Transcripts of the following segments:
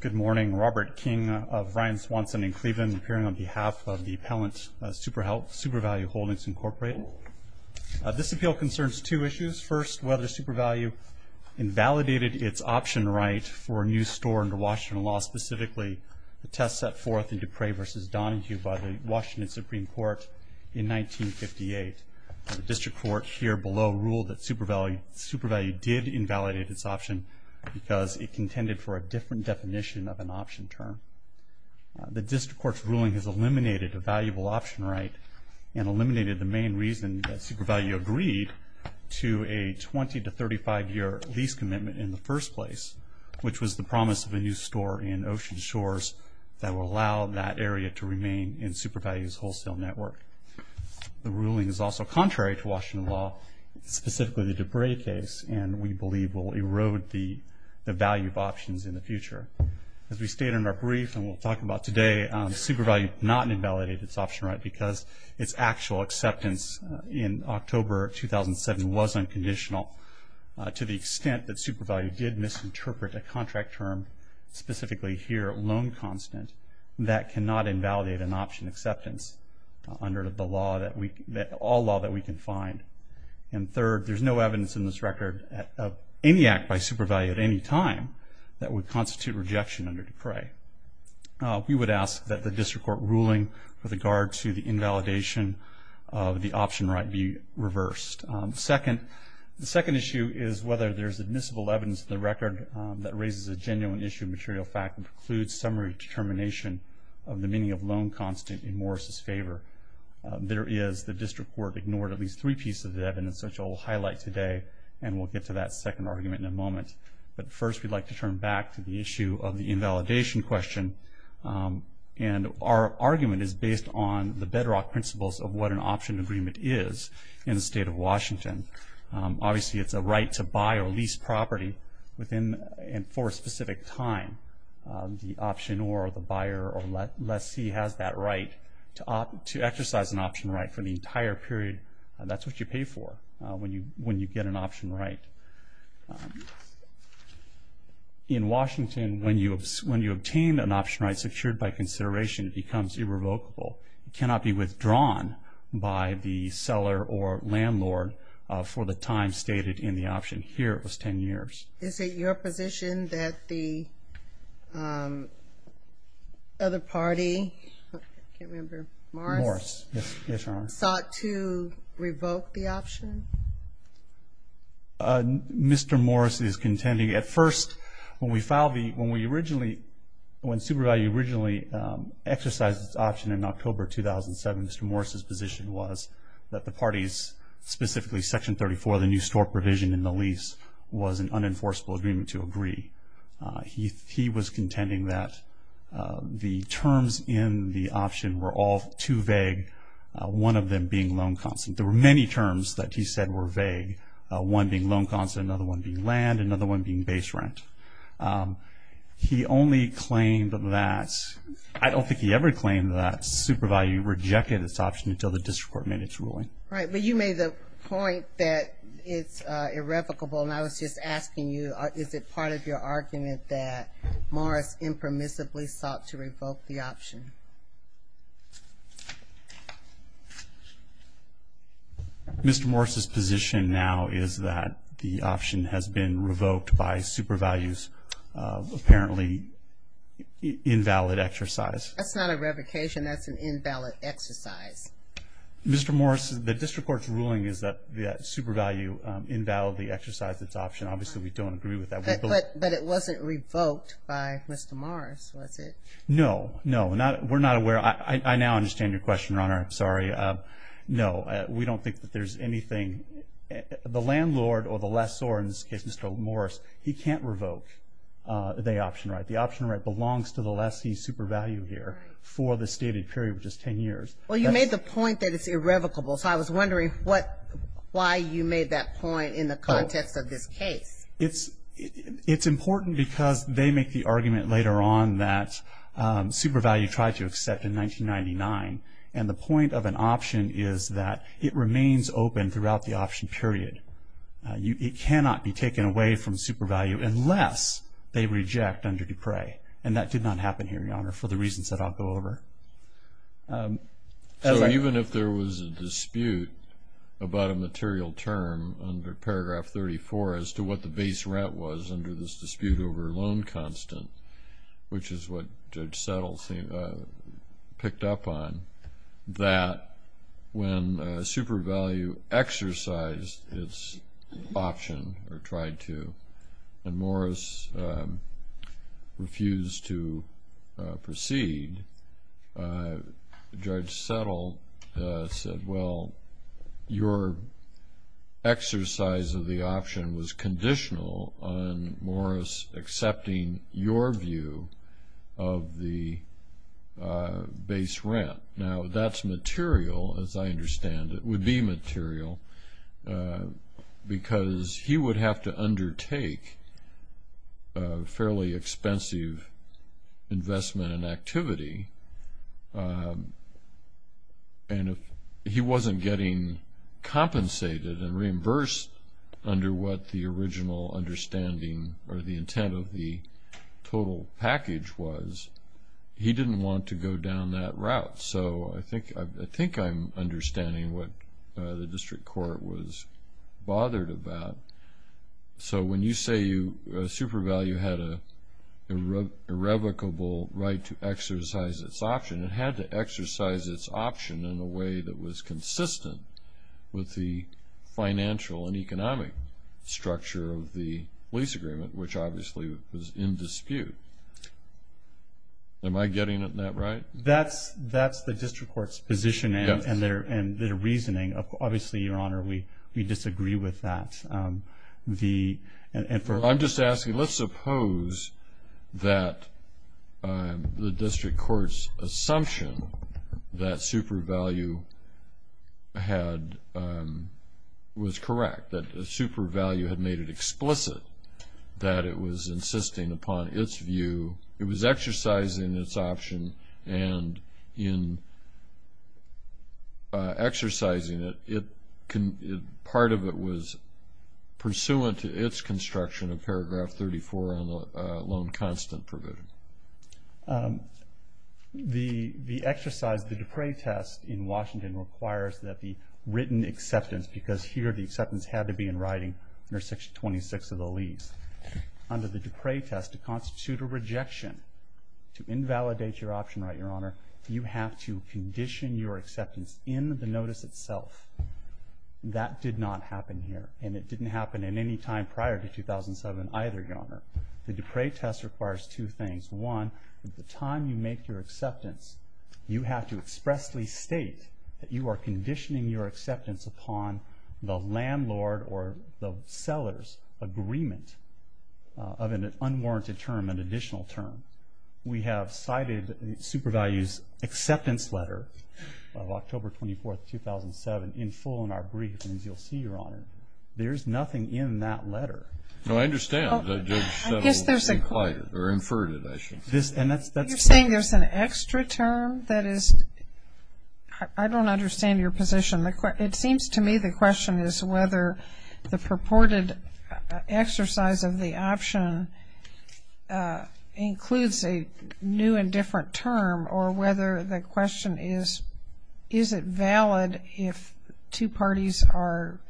Good morning. Robert King of Ryan, Swanson & Cleveland, appearing on behalf of the appellant SuperValue Holdings, Inc. This appeal concerns two issues. First, whether SuperValue invalidated its option right for a new store under Washington law, specifically the test set forth in Dupree v. Donahue by the Washington Supreme Court in 1958. The district court here below ruled that SuperValue did invalidate its option because it contended for a different definition of an option term. The district court's ruling has eliminated a valuable option right and eliminated the main reason that SuperValue agreed to a 20-35 year lease commitment in the first place, which was the promise of a new store in Ocean Shores that would allow that area to remain in SuperValue's wholesale network. The ruling is also contrary to Washington law, specifically the Dupree case, and we believe will erode the value of options in the future. As we stated in our brief and we'll talk about today, SuperValue did not invalidate its option right because its actual acceptance in October 2007 was unconditional to the extent that SuperValue did misinterpret a contract term, specifically here, loan constant, that cannot invalidate an option acceptance under all law that we can find. And third, there's no evidence in this record of any act by SuperValue at any time that would constitute rejection under Dupree. We would ask that the district court ruling with regard to the invalidation of the option right be reversed. The second issue is whether there's admissible evidence in the record that raises a genuine issue of material fact and precludes summary determination of the meaning of loan constant in Morris' favor. There is. The district court ignored at least three pieces of evidence, which I will highlight today, and we'll get to that second argument in a moment. But first, we'd like to turn back to the issue of the invalidation question, and our argument is based on the bedrock principles of what an option agreement is in the state of Washington. Obviously, it's a right to buy or lease property for a specific time. The option or the buyer or lessee has that right to exercise an option right for the entire period. That's what you pay for when you get an option right. In Washington, when you obtain an option right secured by consideration, it becomes irrevocable. It cannot be withdrawn by the seller or landlord for the time stated in the option. Here, it was 10 years. Is it your position that the other party, I can't remember, Morris, sought to revoke the option? Mr. Morris is contending. When Supervalue originally exercised its option in October 2007, Mr. Morris' position was that the parties, specifically Section 34, the new store provision in the lease, was an unenforceable agreement to agree. He was contending that the terms in the option were all too vague, one of them being loan constant. There were many terms that he said were vague, one being loan constant, another one being land, and another one being base rent. He only claimed that, I don't think he ever claimed that Supervalue rejected its option until the district court made its ruling. Right, but you made the point that it's irrevocable, and I was just asking you, is it part of your argument that Morris impermissibly sought to revoke the option? Mr. Morris' position now is that the option has been revoked by Supervalue's apparently invalid exercise. That's not a revocation, that's an invalid exercise. Mr. Morris, the district court's ruling is that Supervalue invalidly exercised its option. Obviously, we don't agree with that. But it wasn't revoked by Mr. Morris, was it? No, no. We're not aware. I now understand your question, Your Honor. I'm sorry. No, we don't think that there's anything. The landlord, or the lessor in this case, Mr. Morris, he can't revoke the option right. The option right belongs to the lessee Supervalue here for the stated period of just 10 years. Well, you made the point that it's irrevocable, so I was wondering why you made that point in the context of this case. It's important because they make the argument later on that Supervalue tried to accept in 1999, and the point of an option is that it remains open throughout the option period. It cannot be taken away from Supervalue unless they reject under Dupre, and that did not happen here, Your Honor, for the reasons that I'll go over. So even if there was a dispute about a material term under paragraph 34 as to what the base rent was under this dispute over loan constant, which is what Judge Settle picked up on, that when Supervalue exercised its option, or tried to, and Morris refused to proceed, Judge Settle said, well, your exercise of the option was conditional on Morris accepting your view of the base rent. Now, that's material, as I understand it, would be material, because he would have to undertake a fairly expensive investment and activity, and if he wasn't getting compensated and reimbursed under what the original understanding or the intent of the total package was, he didn't want to go down that route. So I think I'm understanding what the district court was bothered about. So when you say Supervalue had an irrevocable right to exercise its option, it had to exercise its option in a way that was consistent with the financial and economic structure of the lease agreement, which obviously was in dispute. Am I getting that right? That's the district court's position and their reasoning. Obviously, Your Honor, we disagree with that. I'm just asking, let's suppose that the district court's assumption that Supervalue was correct, that Supervalue had made it explicit that it was insisting upon its view, it was exercising its option, and in exercising it, part of it was pursuant to its construction of paragraph 34 on the loan constant provision. The exercise, the Dupre test in Washington requires that the written acceptance, because here the acceptance had to be in writing under Section 26 of the lease. Under the Dupre test, to constitute a rejection, to invalidate your option right, Your Honor, you have to condition your acceptance in the notice itself. That did not happen here, and it didn't happen at any time prior to 2007 either, Your Honor. The Dupre test requires two things. One, at the time you make your acceptance, you have to expressly state that you are conditioning your acceptance upon the landlord or the seller's agreement of an unwarranted term, an additional term. We have cited Supervalue's acceptance letter of October 24th, 2007, in full in our brief, and as you'll see, Your Honor, there's nothing in that letter. No, I understand. I guess there's a quote. Or inferred it, I should say. You're saying there's an extra term? That is, I don't understand your position. It seems to me the question is whether the purported exercise of the option includes a new and different term or whether the question is, is it valid if two parties are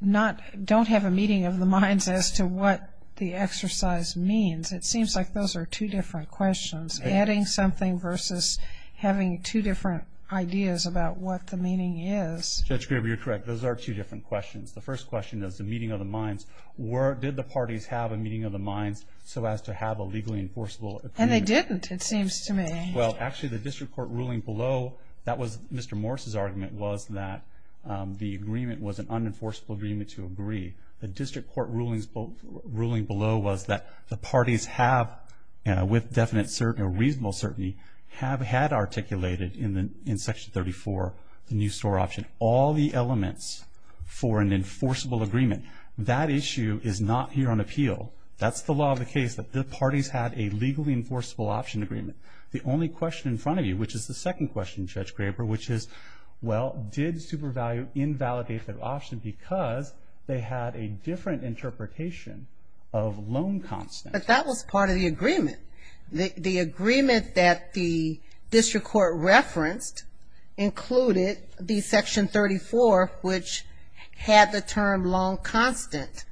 not, don't have a meeting of the minds as to what the exercise means. It seems like those are two different questions. Adding something versus having two different ideas about what the meaning is. Judge Graber, you're correct. Those are two different questions. The first question is the meeting of the minds. Did the parties have a meeting of the minds so as to have a legally enforceable agreement? And they didn't, it seems to me. Well, actually, the district court ruling below, that was Mr. Morris's argument, was that the agreement was an unenforceable agreement to agree. The district court ruling below was that the parties have, with definite certainty or reasonable certainty, have had articulated in Section 34 the new store option. All the elements for an enforceable agreement. That issue is not here on appeal. That's the law of the case, that the parties had a legally enforceable option agreement. The only question in front of you, which is the second question, Judge Graber, which is, well, did SuperValue invalidate their option because they had a different interpretation of loan constant? But that was part of the agreement. The agreement that the district court referenced included the Section 34, which had the term loan constant.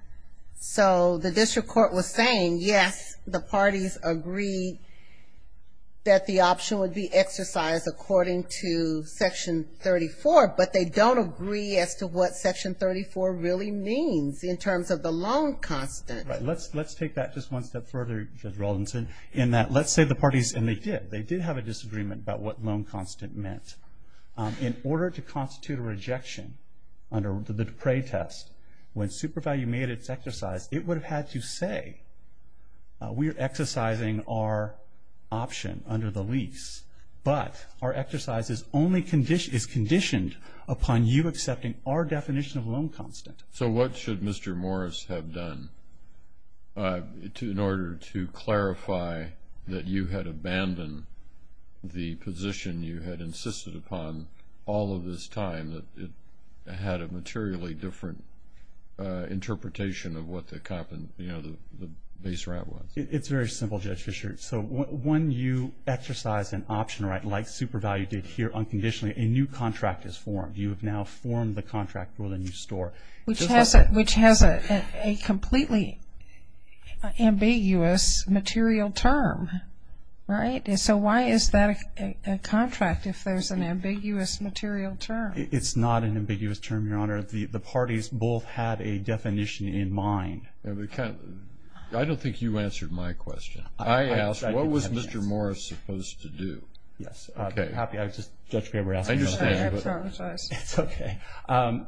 So the district court was saying, yes, the parties agreed that the option would be exercised according to Section 34, but they don't agree as to what Section 34 really means in terms of the loan constant. Let's take that just one step further, Judge Rawlinson, in that let's say the parties, and they did, they did have a disagreement about what loan constant meant. In order to constitute a rejection under the Dupre test, when SuperValue made its exercise, it would have had to say, we are exercising our option under the lease, but our exercise is conditioned upon you accepting our definition of loan constant. So what should Mr. Morris have done in order to clarify that you had abandoned the position you had insisted upon all of this time, that it had a materially different interpretation of what the base rent was? It's very simple, Judge Fischer. So when you exercise an option, right, like SuperValue did here unconditionally, a new contract is formed. You have now formed the contract for the new store. Which has a completely ambiguous material term, right? So why is that a contract if there's an ambiguous material term? It's not an ambiguous term, Your Honor. The parties both had a definition in mind. I don't think you answered my question. I asked, what was Mr. Morris supposed to do? Yes. Okay. I'm happy. I was just, Judge Fischer, asking. I understand. I apologize. It's okay. I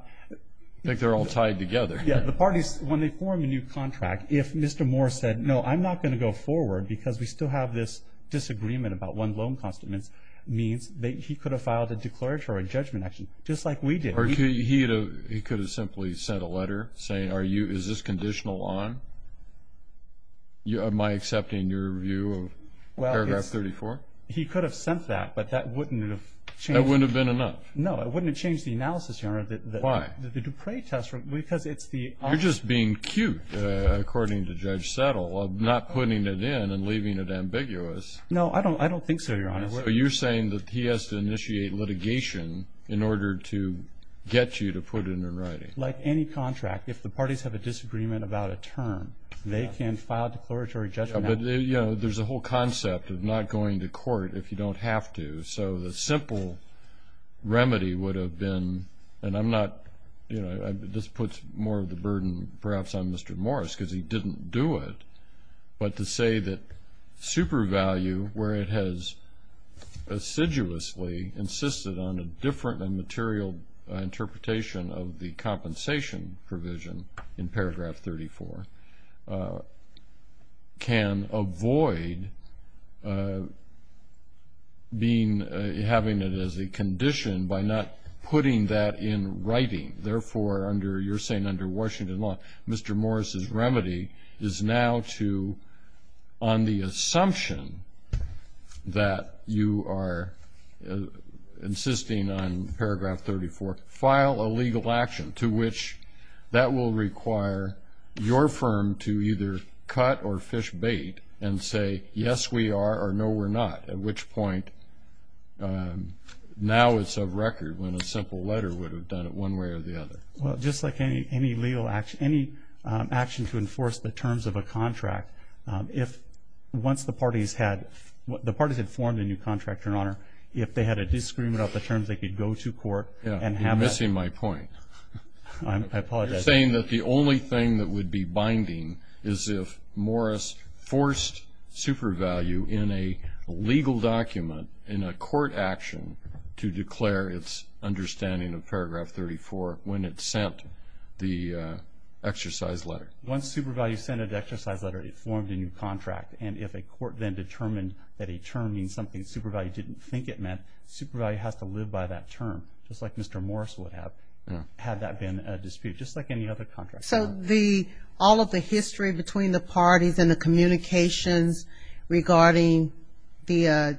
think they're all tied together. Yeah. The parties, when they form a new contract, if Mr. Morris said, no, I'm not going to go forward because we still have this disagreement about what loan constant means, he could have filed a declaratory judgment action just like we did. Or he could have simply sent a letter saying, is this conditional on my accepting your review of paragraph 34? He could have sent that, but that wouldn't have changed it. That wouldn't have been enough? No. It wouldn't have changed the analysis, Your Honor. Why? The Dupre test, because it's the opposite. You're just being cute, according to Judge Settle, of not putting it in and leaving it ambiguous. No, I don't think so, Your Honor. So you're saying that he has to initiate litigation in order to get you to put it in writing. Like any contract, if the parties have a disagreement about a term, they can file a declaratory judgment. But, you know, there's a whole concept of not going to court if you don't have to. So the simple remedy would have been, and I'm not, you know, this puts more of the burden perhaps on Mr. Morris because he didn't do it, but to say that super value, where it has assiduously insisted on a different and material interpretation of the compensation provision in paragraph 34, can avoid having it as a condition by not putting that in writing. Therefore, you're saying under Washington law, Mr. Morris's remedy is now to, on the assumption that you are insisting on paragraph 34, file a legal action to which that will require your firm to either cut or fish bait and say yes we are or no we're not, at which point now it's of record when a simple letter would have done it one way or the other. Well, just like any legal action, any action to enforce the terms of a contract, if once the parties had formed a new contractor and owner, if they had a disagreement about the terms they could go to court and have that. Yeah, you're missing my point. I apologize. You're saying that the only thing that would be binding is if Morris forced super value in a legal document in a court action to declare its understanding of paragraph 34 when it sent the exercise letter. Once super value sent an exercise letter, it formed a new contract, and if a court then determined that a term means something super value didn't think it meant, super value has to live by that term, just like Mr. Morris would have, had that been a dispute, just like any other contract. So all of the history between the parties and the communications regarding the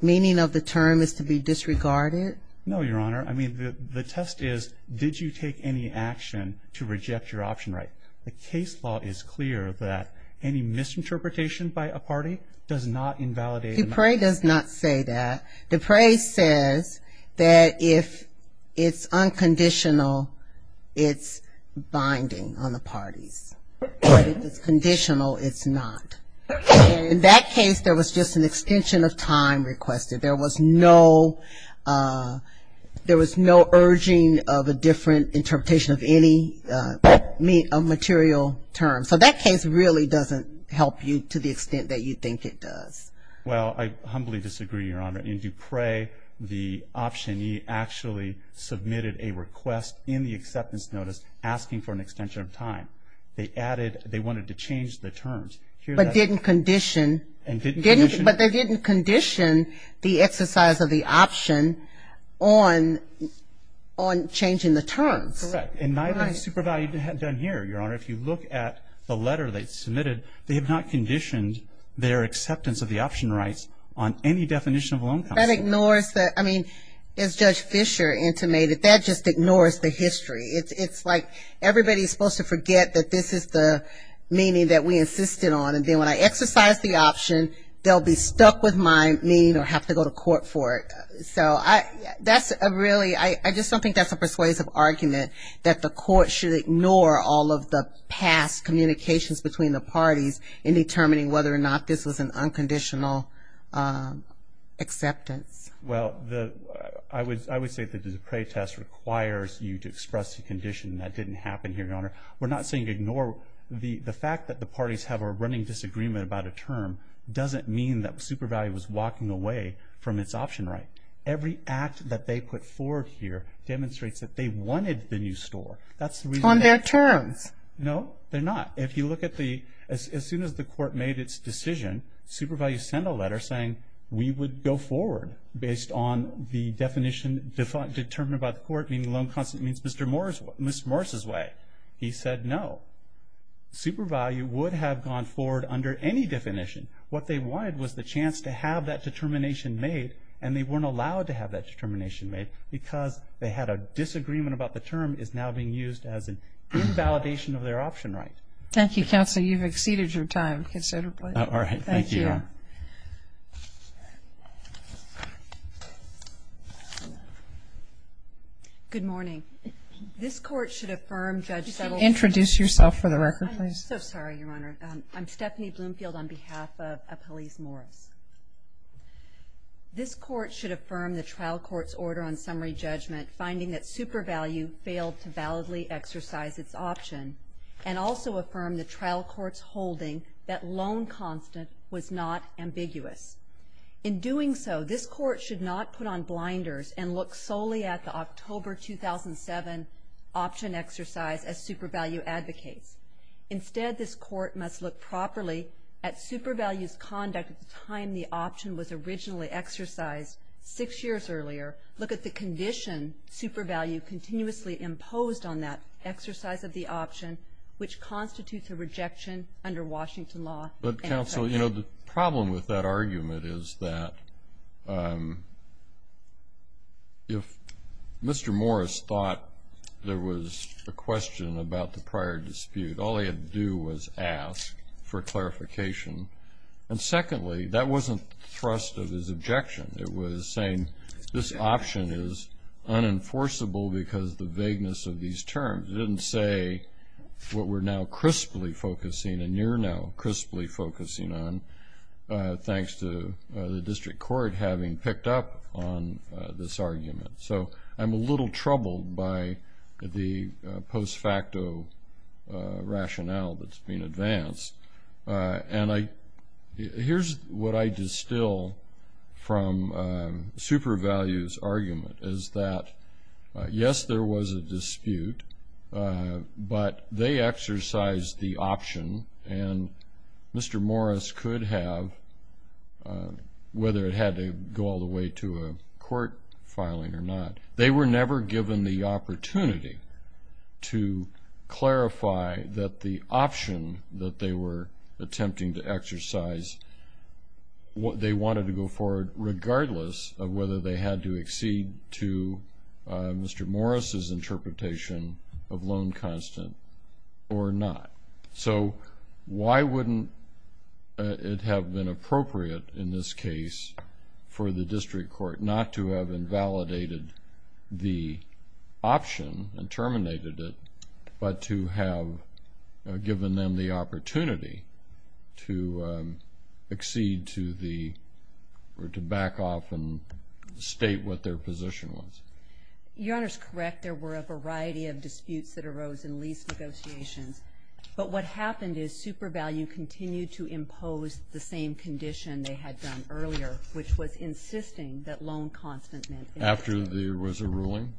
meaning of the term is to be disregarded? No, Your Honor. I mean, the test is, did you take any action to reject your option right? The case law is clear that any misinterpretation by a party does not invalidate. Dupre does not say that. Dupre says that if it's unconditional, it's binding on the parties. But if it's conditional, it's not. In that case, there was just an extension of time requested. There was no urging of a different interpretation of any material term. So that case really doesn't help you to the extent that you think it does. Well, I humbly disagree, Your Honor. In Dupre, the optionee actually submitted a request in the acceptance notice asking for an extension of time. They wanted to change the terms. But they didn't condition the exercise of the option on changing the terms. Correct. And neither has Supervalu done here, Your Honor. If you look at the letter they submitted, they have not conditioned their acceptance of the option rights on any definition of a loan policy. That ignores that. I mean, as Judge Fischer intimated, that just ignores the history. It's like everybody's supposed to forget that this is the meaning that we insisted on. And then when I exercise the option, they'll be stuck with my meaning or have to go to court for it. So that's a really ‑‑ I just don't think that's a persuasive argument that the court should ignore all of the past communications between the parties in determining whether or not this was an unconditional acceptance. Well, I would say that the Dupre test requires you to express the condition that didn't happen here, Your Honor. We're not saying ignore. The fact that the parties have a running disagreement about a term doesn't mean that Supervalu was walking away from its option right. Every act that they put forward here demonstrates that they wanted the new store. That's the reason. On their terms. No, they're not. If you look at the ‑‑ as soon as the court made its decision, Supervalu sent a letter saying we would go forward based on the definition determined by the court, meaning loan consent means Mr. Morris's way. He said no. Supervalu would have gone forward under any definition. What they wanted was the chance to have that determination made, and they weren't allowed to have that determination made because they had a disagreement about the term is now being used as an invalidation of their option right. Thank you, Counselor. You've exceeded your time considerably. All right. Thank you, Your Honor. Thank you. Good morning. This court should affirm Judge ‑‑ Introduce yourself for the record, please. I'm so sorry, Your Honor. I'm Stephanie Bloomfield on behalf of Appelese Morris. This court should affirm the trial court's order on summary judgment finding that Supervalu failed to validly exercise its option and also affirm the trial court's holding that loan consent was not ambiguous. In doing so, this court should not put on blinders and look solely at the October 2007 option exercise as Supervalu advocates. Instead, this court must look properly at Supervalu's conduct at the time the option was originally exercised six years earlier, look at the condition Supervalu continuously imposed on that exercise of the option, which constitutes a rejection under Washington law. But, Counsel, you know, the problem with that argument is that if Mr. Morris thought there was a question about the prior dispute, all he had to do was ask for clarification. And secondly, that wasn't thrust of his objection. It was saying this option is unenforceable because of the vagueness of these terms. It didn't say what we're now crisply focusing and you're now crisply focusing on, thanks to the district court having picked up on this argument. So I'm a little troubled by the post-facto rationale that's been advanced. And here's what I distill from Supervalu's argument, is that, yes, there was a dispute, but they exercised the option, and Mr. Morris could have, whether it had to go all the way to a court filing or not. They were never given the opportunity to clarify that the option that they were attempting to exercise, they wanted to go forward regardless of whether they had to accede to Mr. Morris' interpretation of loan constant or not. So why wouldn't it have been appropriate in this case for the district court not to have invalidated the option and terminated it, but to have given them the opportunity to accede to the, or to back off and state what their position was? Your Honor's correct. There were a variety of disputes that arose in lease negotiations. But what happened is Supervalu continued to impose the same condition they had done earlier, which was insisting that loan constant meant. After there was a ruling?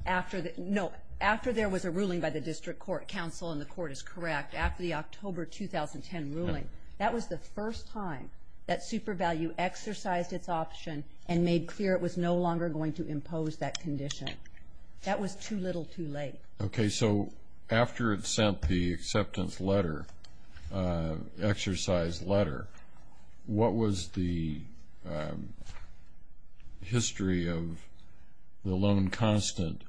No, after there was a ruling by the district court counsel, and the court is correct, after the October 2010 ruling, that was the first time that Supervalu exercised its option and made clear it was no longer going to impose that condition. That was too little too late. Okay, so after it sent the acceptance letter, exercise letter, what was the history of the loan constant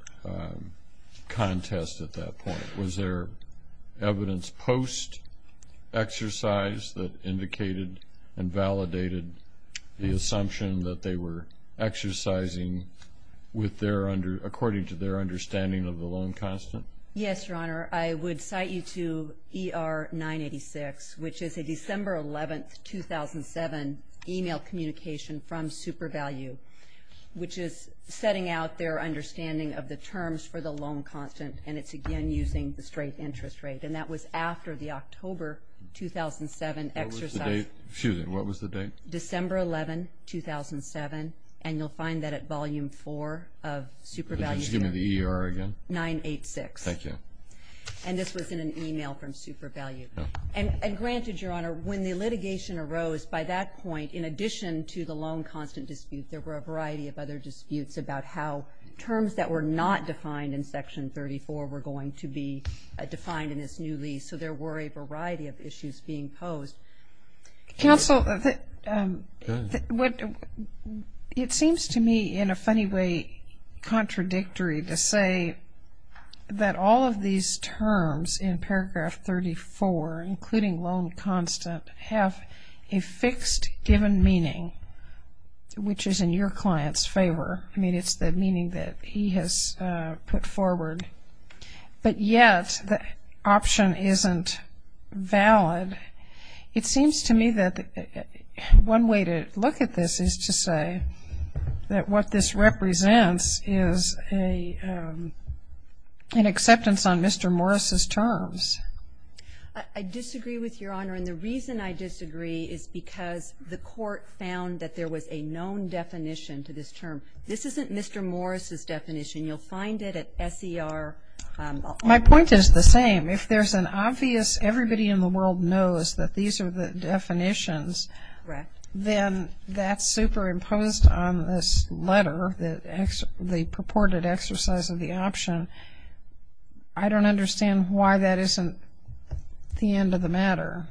contest at that point? Was there evidence post-exercise that indicated and validated the assumption that they were exercising according to their understanding of the loan constant? Yes, Your Honor. I would cite you to ER 986, which is a December 11, 2007, email communication from Supervalu, which is setting out their understanding of the terms for the loan constant, and it's again using the straight interest rate. And that was after the October 2007 exercise. What was the date? Excuse me, what was the date? December 11, 2007, and you'll find that at Volume 4 of Supervalu. Could you just give me the ER again? 986. Thank you. And this was in an email from Supervalu. And granted, Your Honor, when the litigation arose, by that point, in addition to the loan constant dispute, there were a variety of other disputes about how terms that were not defined in Section 34 were going to be defined in this new lease. So there were a variety of issues being posed. Counsel, it seems to me, in a funny way, contradictory to say that all of these terms in paragraph 34, including loan constant, have a fixed given meaning, which is in your client's favor. I mean, it's the meaning that he has put forward. But yet the option isn't valid. It seems to me that one way to look at this is to say that what this represents is an acceptance on Mr. Morris' terms. I disagree with Your Honor, and the reason I disagree is because the court found that there was a known definition This isn't Mr. Morris' definition. You'll find it at SER. My point is the same. If there's an obvious, everybody in the world knows that these are the definitions, then that's superimposed on this letter, the purported exercise of the option. I don't understand why that isn't the end of the matter.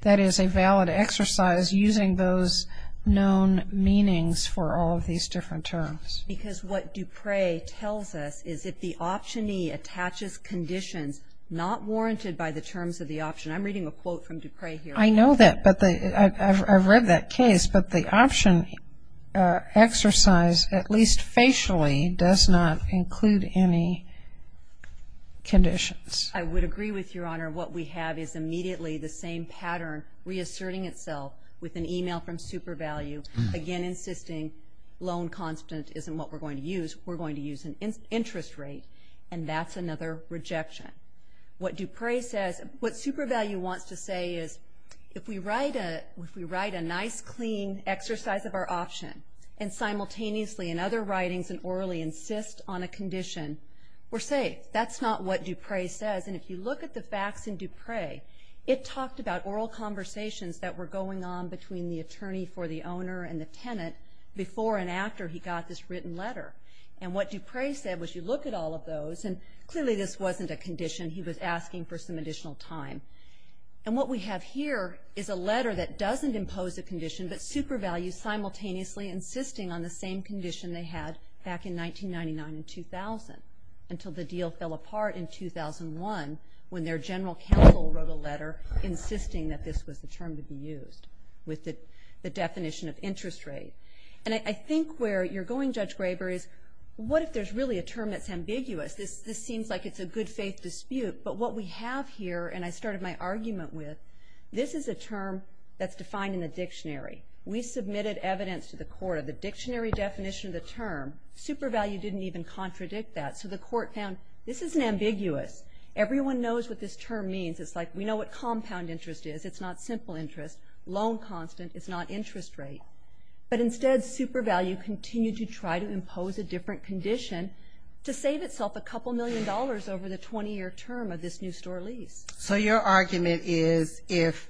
That is a valid exercise using those known meanings for all of these different terms. Because what Dupre tells us is if the optionee attaches conditions not warranted by the terms of the option. I'm reading a quote from Dupre here. I know that, but I've read that case. But the option exercise, at least facially, does not include any conditions. I would agree with Your Honor. What we have is immediately the same pattern, reasserting itself with an email from SuperValue, again insisting loan constant isn't what we're going to use. We're going to use an interest rate, and that's another rejection. What Dupre says, what SuperValue wants to say is if we write a nice, clean exercise of our option and simultaneously in other writings and orally insist on a condition, we're safe. That's not what Dupre says. And if you look at the facts in Dupre, it talked about oral conversations that were going on between the attorney for the owner and the tenant before and after he got this written letter. And what Dupre said was you look at all of those, and clearly this wasn't a condition he was asking for some additional time. And what we have here is a letter that doesn't impose a condition, but SuperValue simultaneously insisting on the same condition they had back in 1999 and 2000 until the deal fell apart in 2001 when their general counsel wrote a letter insisting that this was the term to be used with the definition of interest rate. And I think where you're going, Judge Graber, is what if there's really a term that's ambiguous? This seems like it's a good-faith dispute, but what we have here, and I started my argument with, this is a term that's defined in the dictionary. We submitted evidence to the court of the dictionary definition of the term. SuperValue didn't even contradict that, so the court found this isn't ambiguous. Everyone knows what this term means. It's like we know what compound interest is. It's not simple interest, loan constant. It's not interest rate. But instead, SuperValue continued to try to impose a different condition to save itself a couple million dollars over the 20-year term of this new store lease. So your argument is if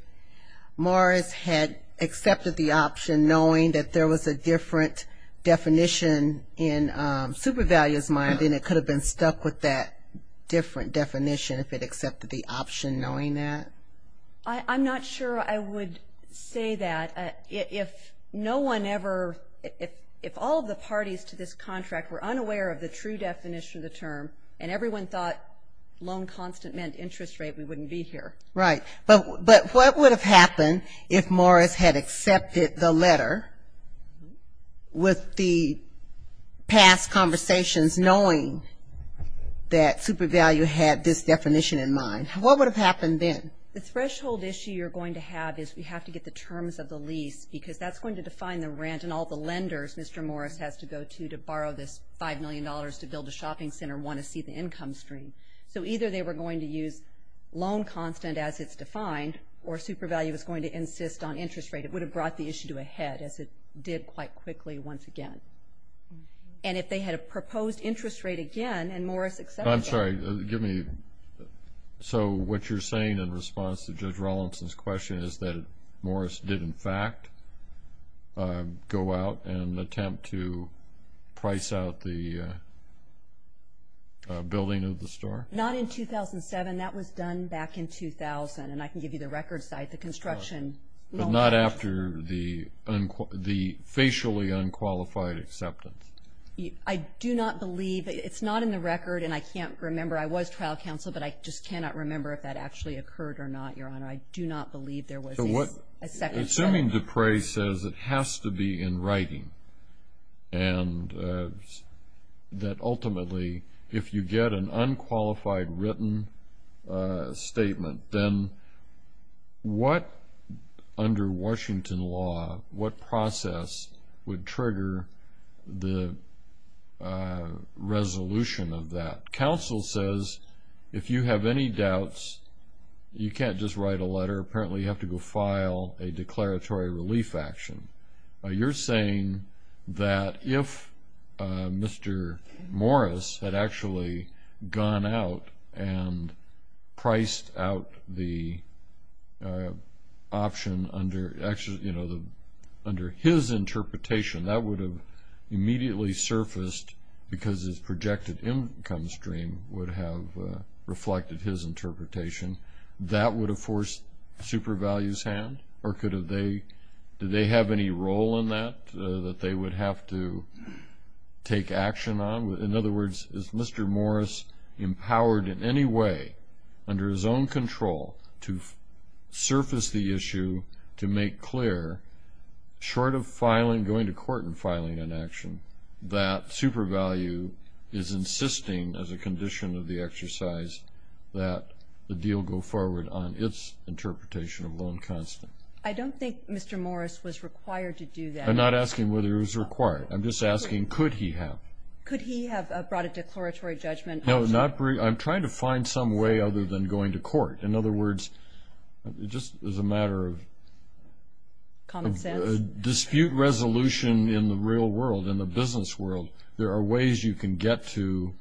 Morris had accepted the option knowing that there was a different definition in SuperValue's mind, then it could have been stuck with that different definition if it accepted the option knowing that? I'm not sure I would say that. If no one ever, if all of the parties to this contract were unaware of the true definition of the term and everyone thought loan constant meant interest rate, we wouldn't be here. Right. But what would have happened if Morris had accepted the letter with the past conversations knowing that SuperValue had this definition in mind? What would have happened then? The threshold issue you're going to have is we have to get the terms of the lease because that's going to define the rent and all the lenders Mr. Morris has to go to to borrow this $5 million to build a shopping center and want to see the income stream. So either they were going to use loan constant as it's defined or SuperValue was going to insist on interest rate. It would have brought the issue to a head as it did quite quickly once again. And if they had a proposed interest rate again and Morris accepted that. I'm sorry. Give me. So what you're saying in response to Judge Rawlinson's question is that Morris did, in fact, go out and attempt to price out the building of the store? Not in 2007. That was done back in 2000, and I can give you the record site, the construction. But not after the facially unqualified acceptance? I do not believe. It's not in the record, and I can't remember. I was trial counsel, but I just cannot remember if that actually occurred or not, Your Honor. I do not believe there was a second trial. Assuming Duprey says it has to be in writing and that ultimately if you get an unqualified written statement, then what, under Washington law, what process would trigger the resolution of that? Counsel says if you have any doubts, you can't just write a letter. Apparently you have to go file a declaratory relief action. You're saying that if Mr. Morris had actually gone out and priced out the option under his interpretation, that would have immediately surfaced because his projected income stream would have reflected his interpretation. That would have forced Supervalue's hand? Or did they have any role in that that they would have to take action on? In other words, is Mr. Morris empowered in any way under his own control to surface the issue to make clear, short of going to court and filing an action, that Supervalue is insisting as a condition of the exercise that the deal go forward on its interpretation of loan constants? I don't think Mr. Morris was required to do that. I'm not asking whether he was required. I'm just asking could he have. Could he have brought a declaratory judgment? No, I'm trying to find some way other than going to court. In other words, just as a matter of dispute resolution in the real world, in the business world, there are ways you can get to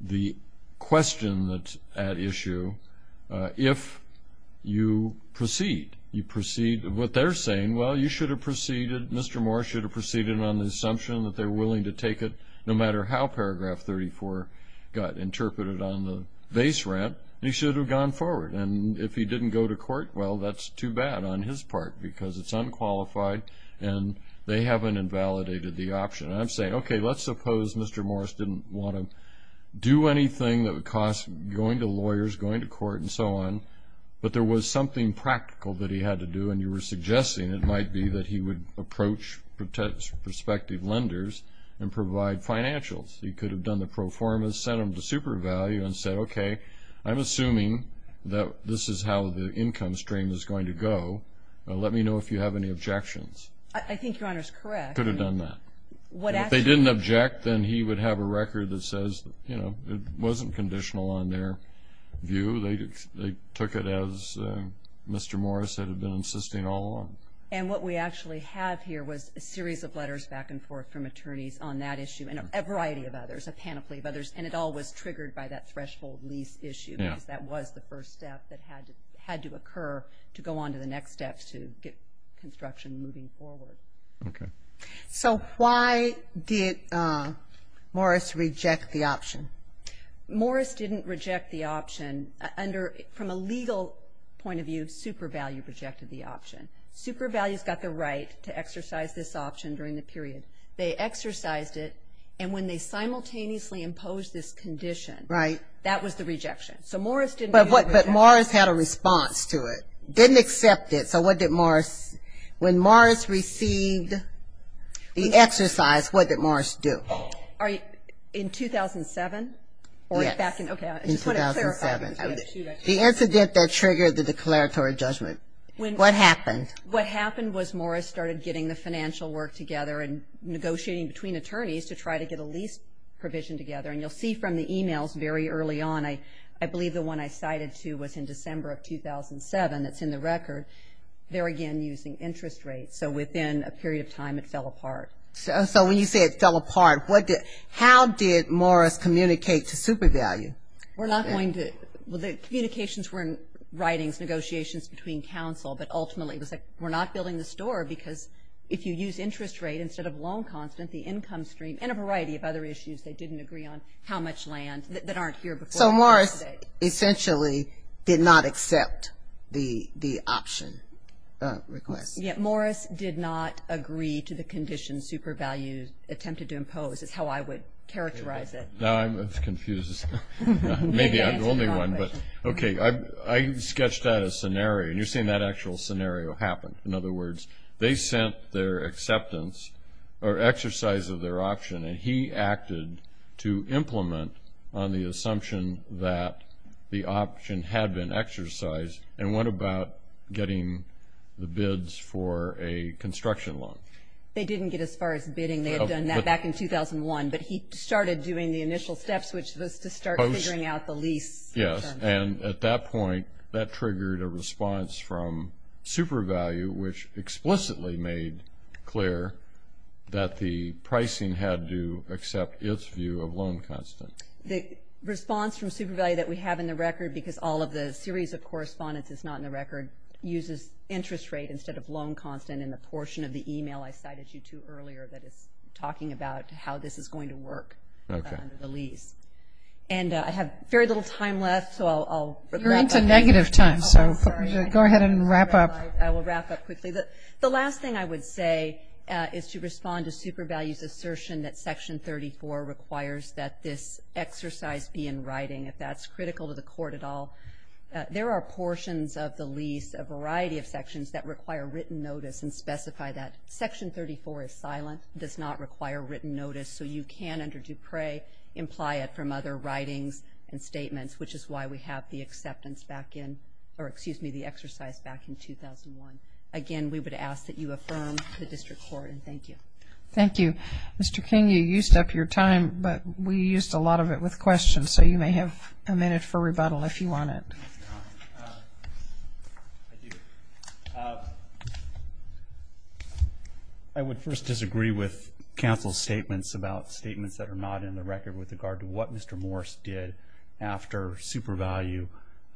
the question at issue if you proceed. What they're saying, well, you should have proceeded, Mr. Morris should have proceeded on the assumption that they're willing to take it no matter how Paragraph 34 got interpreted on the base rent. He should have gone forward. And if he didn't go to court, well, that's too bad on his part because it's unqualified and they haven't invalidated the option. And I'm saying, okay, let's suppose Mr. Morris didn't want to do anything that would cost going to lawyers, going to court, and so on, but there was something practical that he had to do, and you were suggesting it might be that he would approach prospective lenders and provide financials. He could have done the pro forma, sent them to super value, and said, okay, I'm assuming that this is how the income stream is going to go. Let me know if you have any objections. I think Your Honor is correct. He could have done that. If they didn't object, then he would have a record that says, you know, it wasn't conditional on their view. They took it as Mr. Morris had been insisting all along. And what we actually have here was a series of letters back and forth from attorneys on that issue and a variety of others, a panoply of others, and it all was triggered by that threshold lease issue because that was the first step that had to occur to go on to the next step to get construction moving forward. Okay. So why did Morris reject the option? Morris didn't reject the option under, from a legal point of view, super value rejected the option. Super value's got the right to exercise this option during the period. They exercised it, and when they simultaneously imposed this condition, that was the rejection. So Morris didn't. But Morris had a response to it, didn't accept it. So what did Morris? When Morris received the exercise, what did Morris do? In 2007? Yes. Okay, I just want to clarify. In 2007. The incident that triggered the declaratory judgment. What happened? What happened was Morris started getting the financial work together and negotiating between attorneys to try to get a lease provision together. And you'll see from the e-mails very early on, I believe the one I cited to was in December of 2007 that's in the record. They're, again, using interest rates. So within a period of time, it fell apart. So when you say it fell apart, how did Morris communicate to super value? We're not going to. Well, the communications were in writings, negotiations between counsel, but ultimately it was like we're not building the store, because if you use interest rate instead of loan constant, the income stream, and a variety of other issues they didn't agree on, how much land, that aren't here before. So Morris essentially did not accept the option request. Yeah, Morris did not agree to the condition super value attempted to impose, is how I would characterize it. Now I'm confused. Maybe I'm the only one, but okay. I sketched out a scenario, and you're seeing that actual scenario happen. In other words, they sent their acceptance or exercise of their option, and he acted to implement on the assumption that the option had been exercised, and went about getting the bids for a construction loan. They didn't get as far as bidding. They had done that back in 2001, but he started doing the initial steps, which was to start figuring out the lease. Yes, and at that point, that triggered a response from super value, which explicitly made clear that the pricing had to accept its view of loan constant. The response from super value that we have in the record, because all of the series of correspondence is not in the record, uses interest rate instead of loan constant in the portion of the e-mail I cited you to earlier that is talking about how this is going to work under the lease. And I have very little time left, so I'll wrap up. You're into negative time, so go ahead and wrap up. I will wrap up quickly. The last thing I would say is to respond to super value's assertion that Section 34 requires that this exercise be in writing, if that's critical to the court at all. There are portions of the lease, a variety of sections, that require written notice and specify that. Section 34 is silent. It does not require written notice, so you can, under Dupre, imply it from other writings and statements, which is why we have the acceptance back in or, excuse me, the exercise back in 2001. Again, we would ask that you affirm the district court, and thank you. Thank you. Mr. King, you used up your time, but we used a lot of it with questions, so you may have a minute for rebuttal if you want it. I would first disagree with counsel's statements about statements that are not in the record with regard to what Mr. Morris did after super value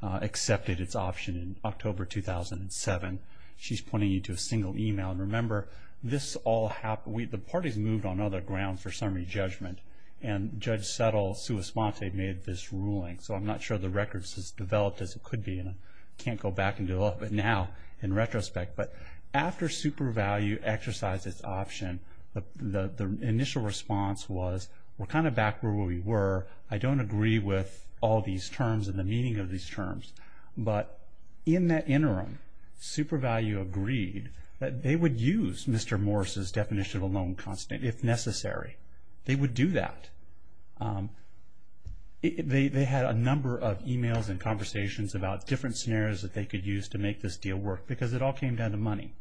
accepted its option in October 2007. She's pointing you to a single e-mail. And remember, the parties moved on other grounds for summary judgment, and Judge Settle, sua sponte, made this ruling. So I'm not sure the record is as developed as it could be, and I can't go back and develop it now in retrospect. But after super value exercised its option, the initial response was, we're kind of back where we were. I don't agree with all these terms and the meaning of these terms. But in that interim, super value agreed that they would use Mr. Morris's definition of a known constant if necessary. They would do that. They had a number of e-mails and conversations about different scenarios that they could use to make this deal work, because it all came down to money.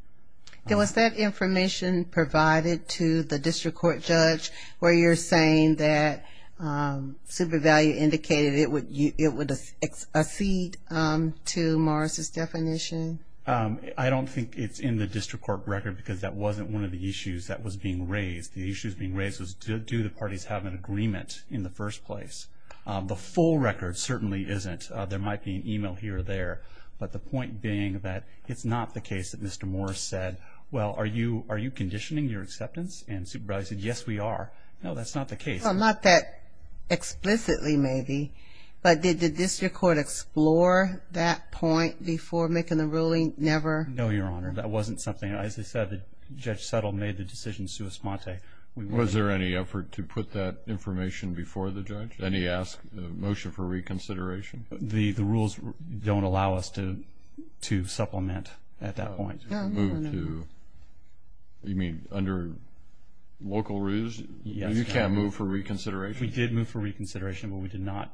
And was that information provided to the district court judge, where you're saying that super value indicated it would accede to Morris's definition? I don't think it's in the district court record because that wasn't one of the issues that was being raised. The issue that was being raised was, do the parties have an agreement in the first place? The full record certainly isn't. There might be an e-mail here or there. But the point being that it's not the case that Mr. Morris said, well, are you conditioning your acceptance? And super value said, yes, we are. No, that's not the case. Well, not that explicitly, maybe. But did the district court explore that point before making the ruling? Never? No, Your Honor. That wasn't something. As I said, Judge Settle made the decision sua sponte. Was there any effort to put that information before the judge? Then he asked the motion for reconsideration. The rules don't allow us to supplement at that point. You mean under local rules? You can't move for reconsideration? We did move for reconsideration, but we did not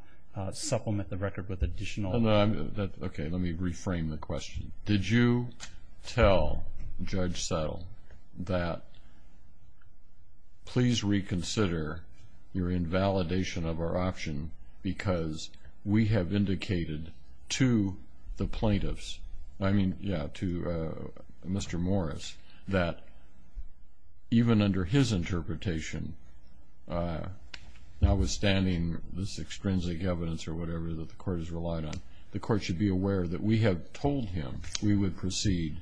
supplement the record with additional. Okay, let me reframe the question. Did you tell Judge Settle that please reconsider your invalidation of our option because we have indicated to the plaintiffs, I mean, yeah, to Mr. Morris, that even under his interpretation, notwithstanding this extrinsic evidence or whatever that the court has relied on, the court should be aware that we have told him we would proceed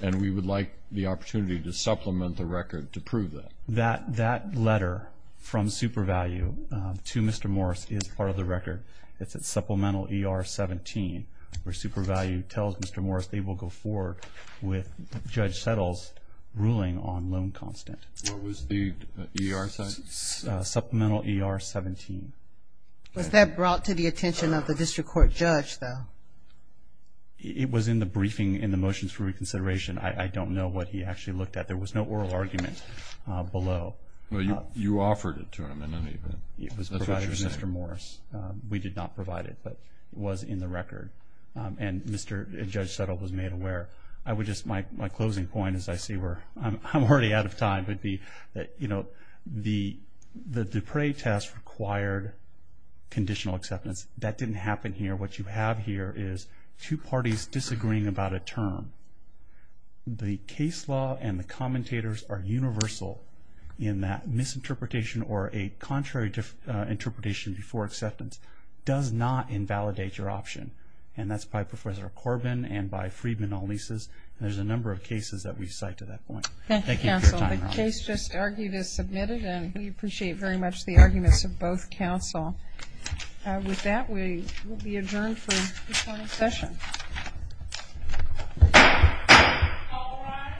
and we would like the opportunity to supplement the record to prove that? That letter from SuperValue to Mr. Morris is part of the record. It's at supplemental ER 17 where SuperValue tells Mr. Morris they will go forward with Judge Settle's ruling on loan constant. What was the ER saying? Supplemental ER 17. Was that brought to the attention of the district court judge, though? It was in the briefing in the motions for reconsideration. I don't know what he actually looked at. There was no oral argument below. Well, you offered it to him in any event. It was provided to Mr. Morris. We did not provide it, but it was in the record, and Judge Settle was made aware. My closing point, as I see, I'm already out of time, would be that the Dupre test required conditional acceptance. That didn't happen here. What you have here is two parties disagreeing about a term. The case law and the commentators are universal in that misinterpretation or a contrary interpretation before acceptance does not invalidate your option, and that's by Professor Corbin and by Friedman, all these. There's a number of cases that we cite to that point. Thank you, counsel. The case just argued as submitted, and we appreciate very much the arguments of both counsel. With that, we will be adjourned for this morning's session.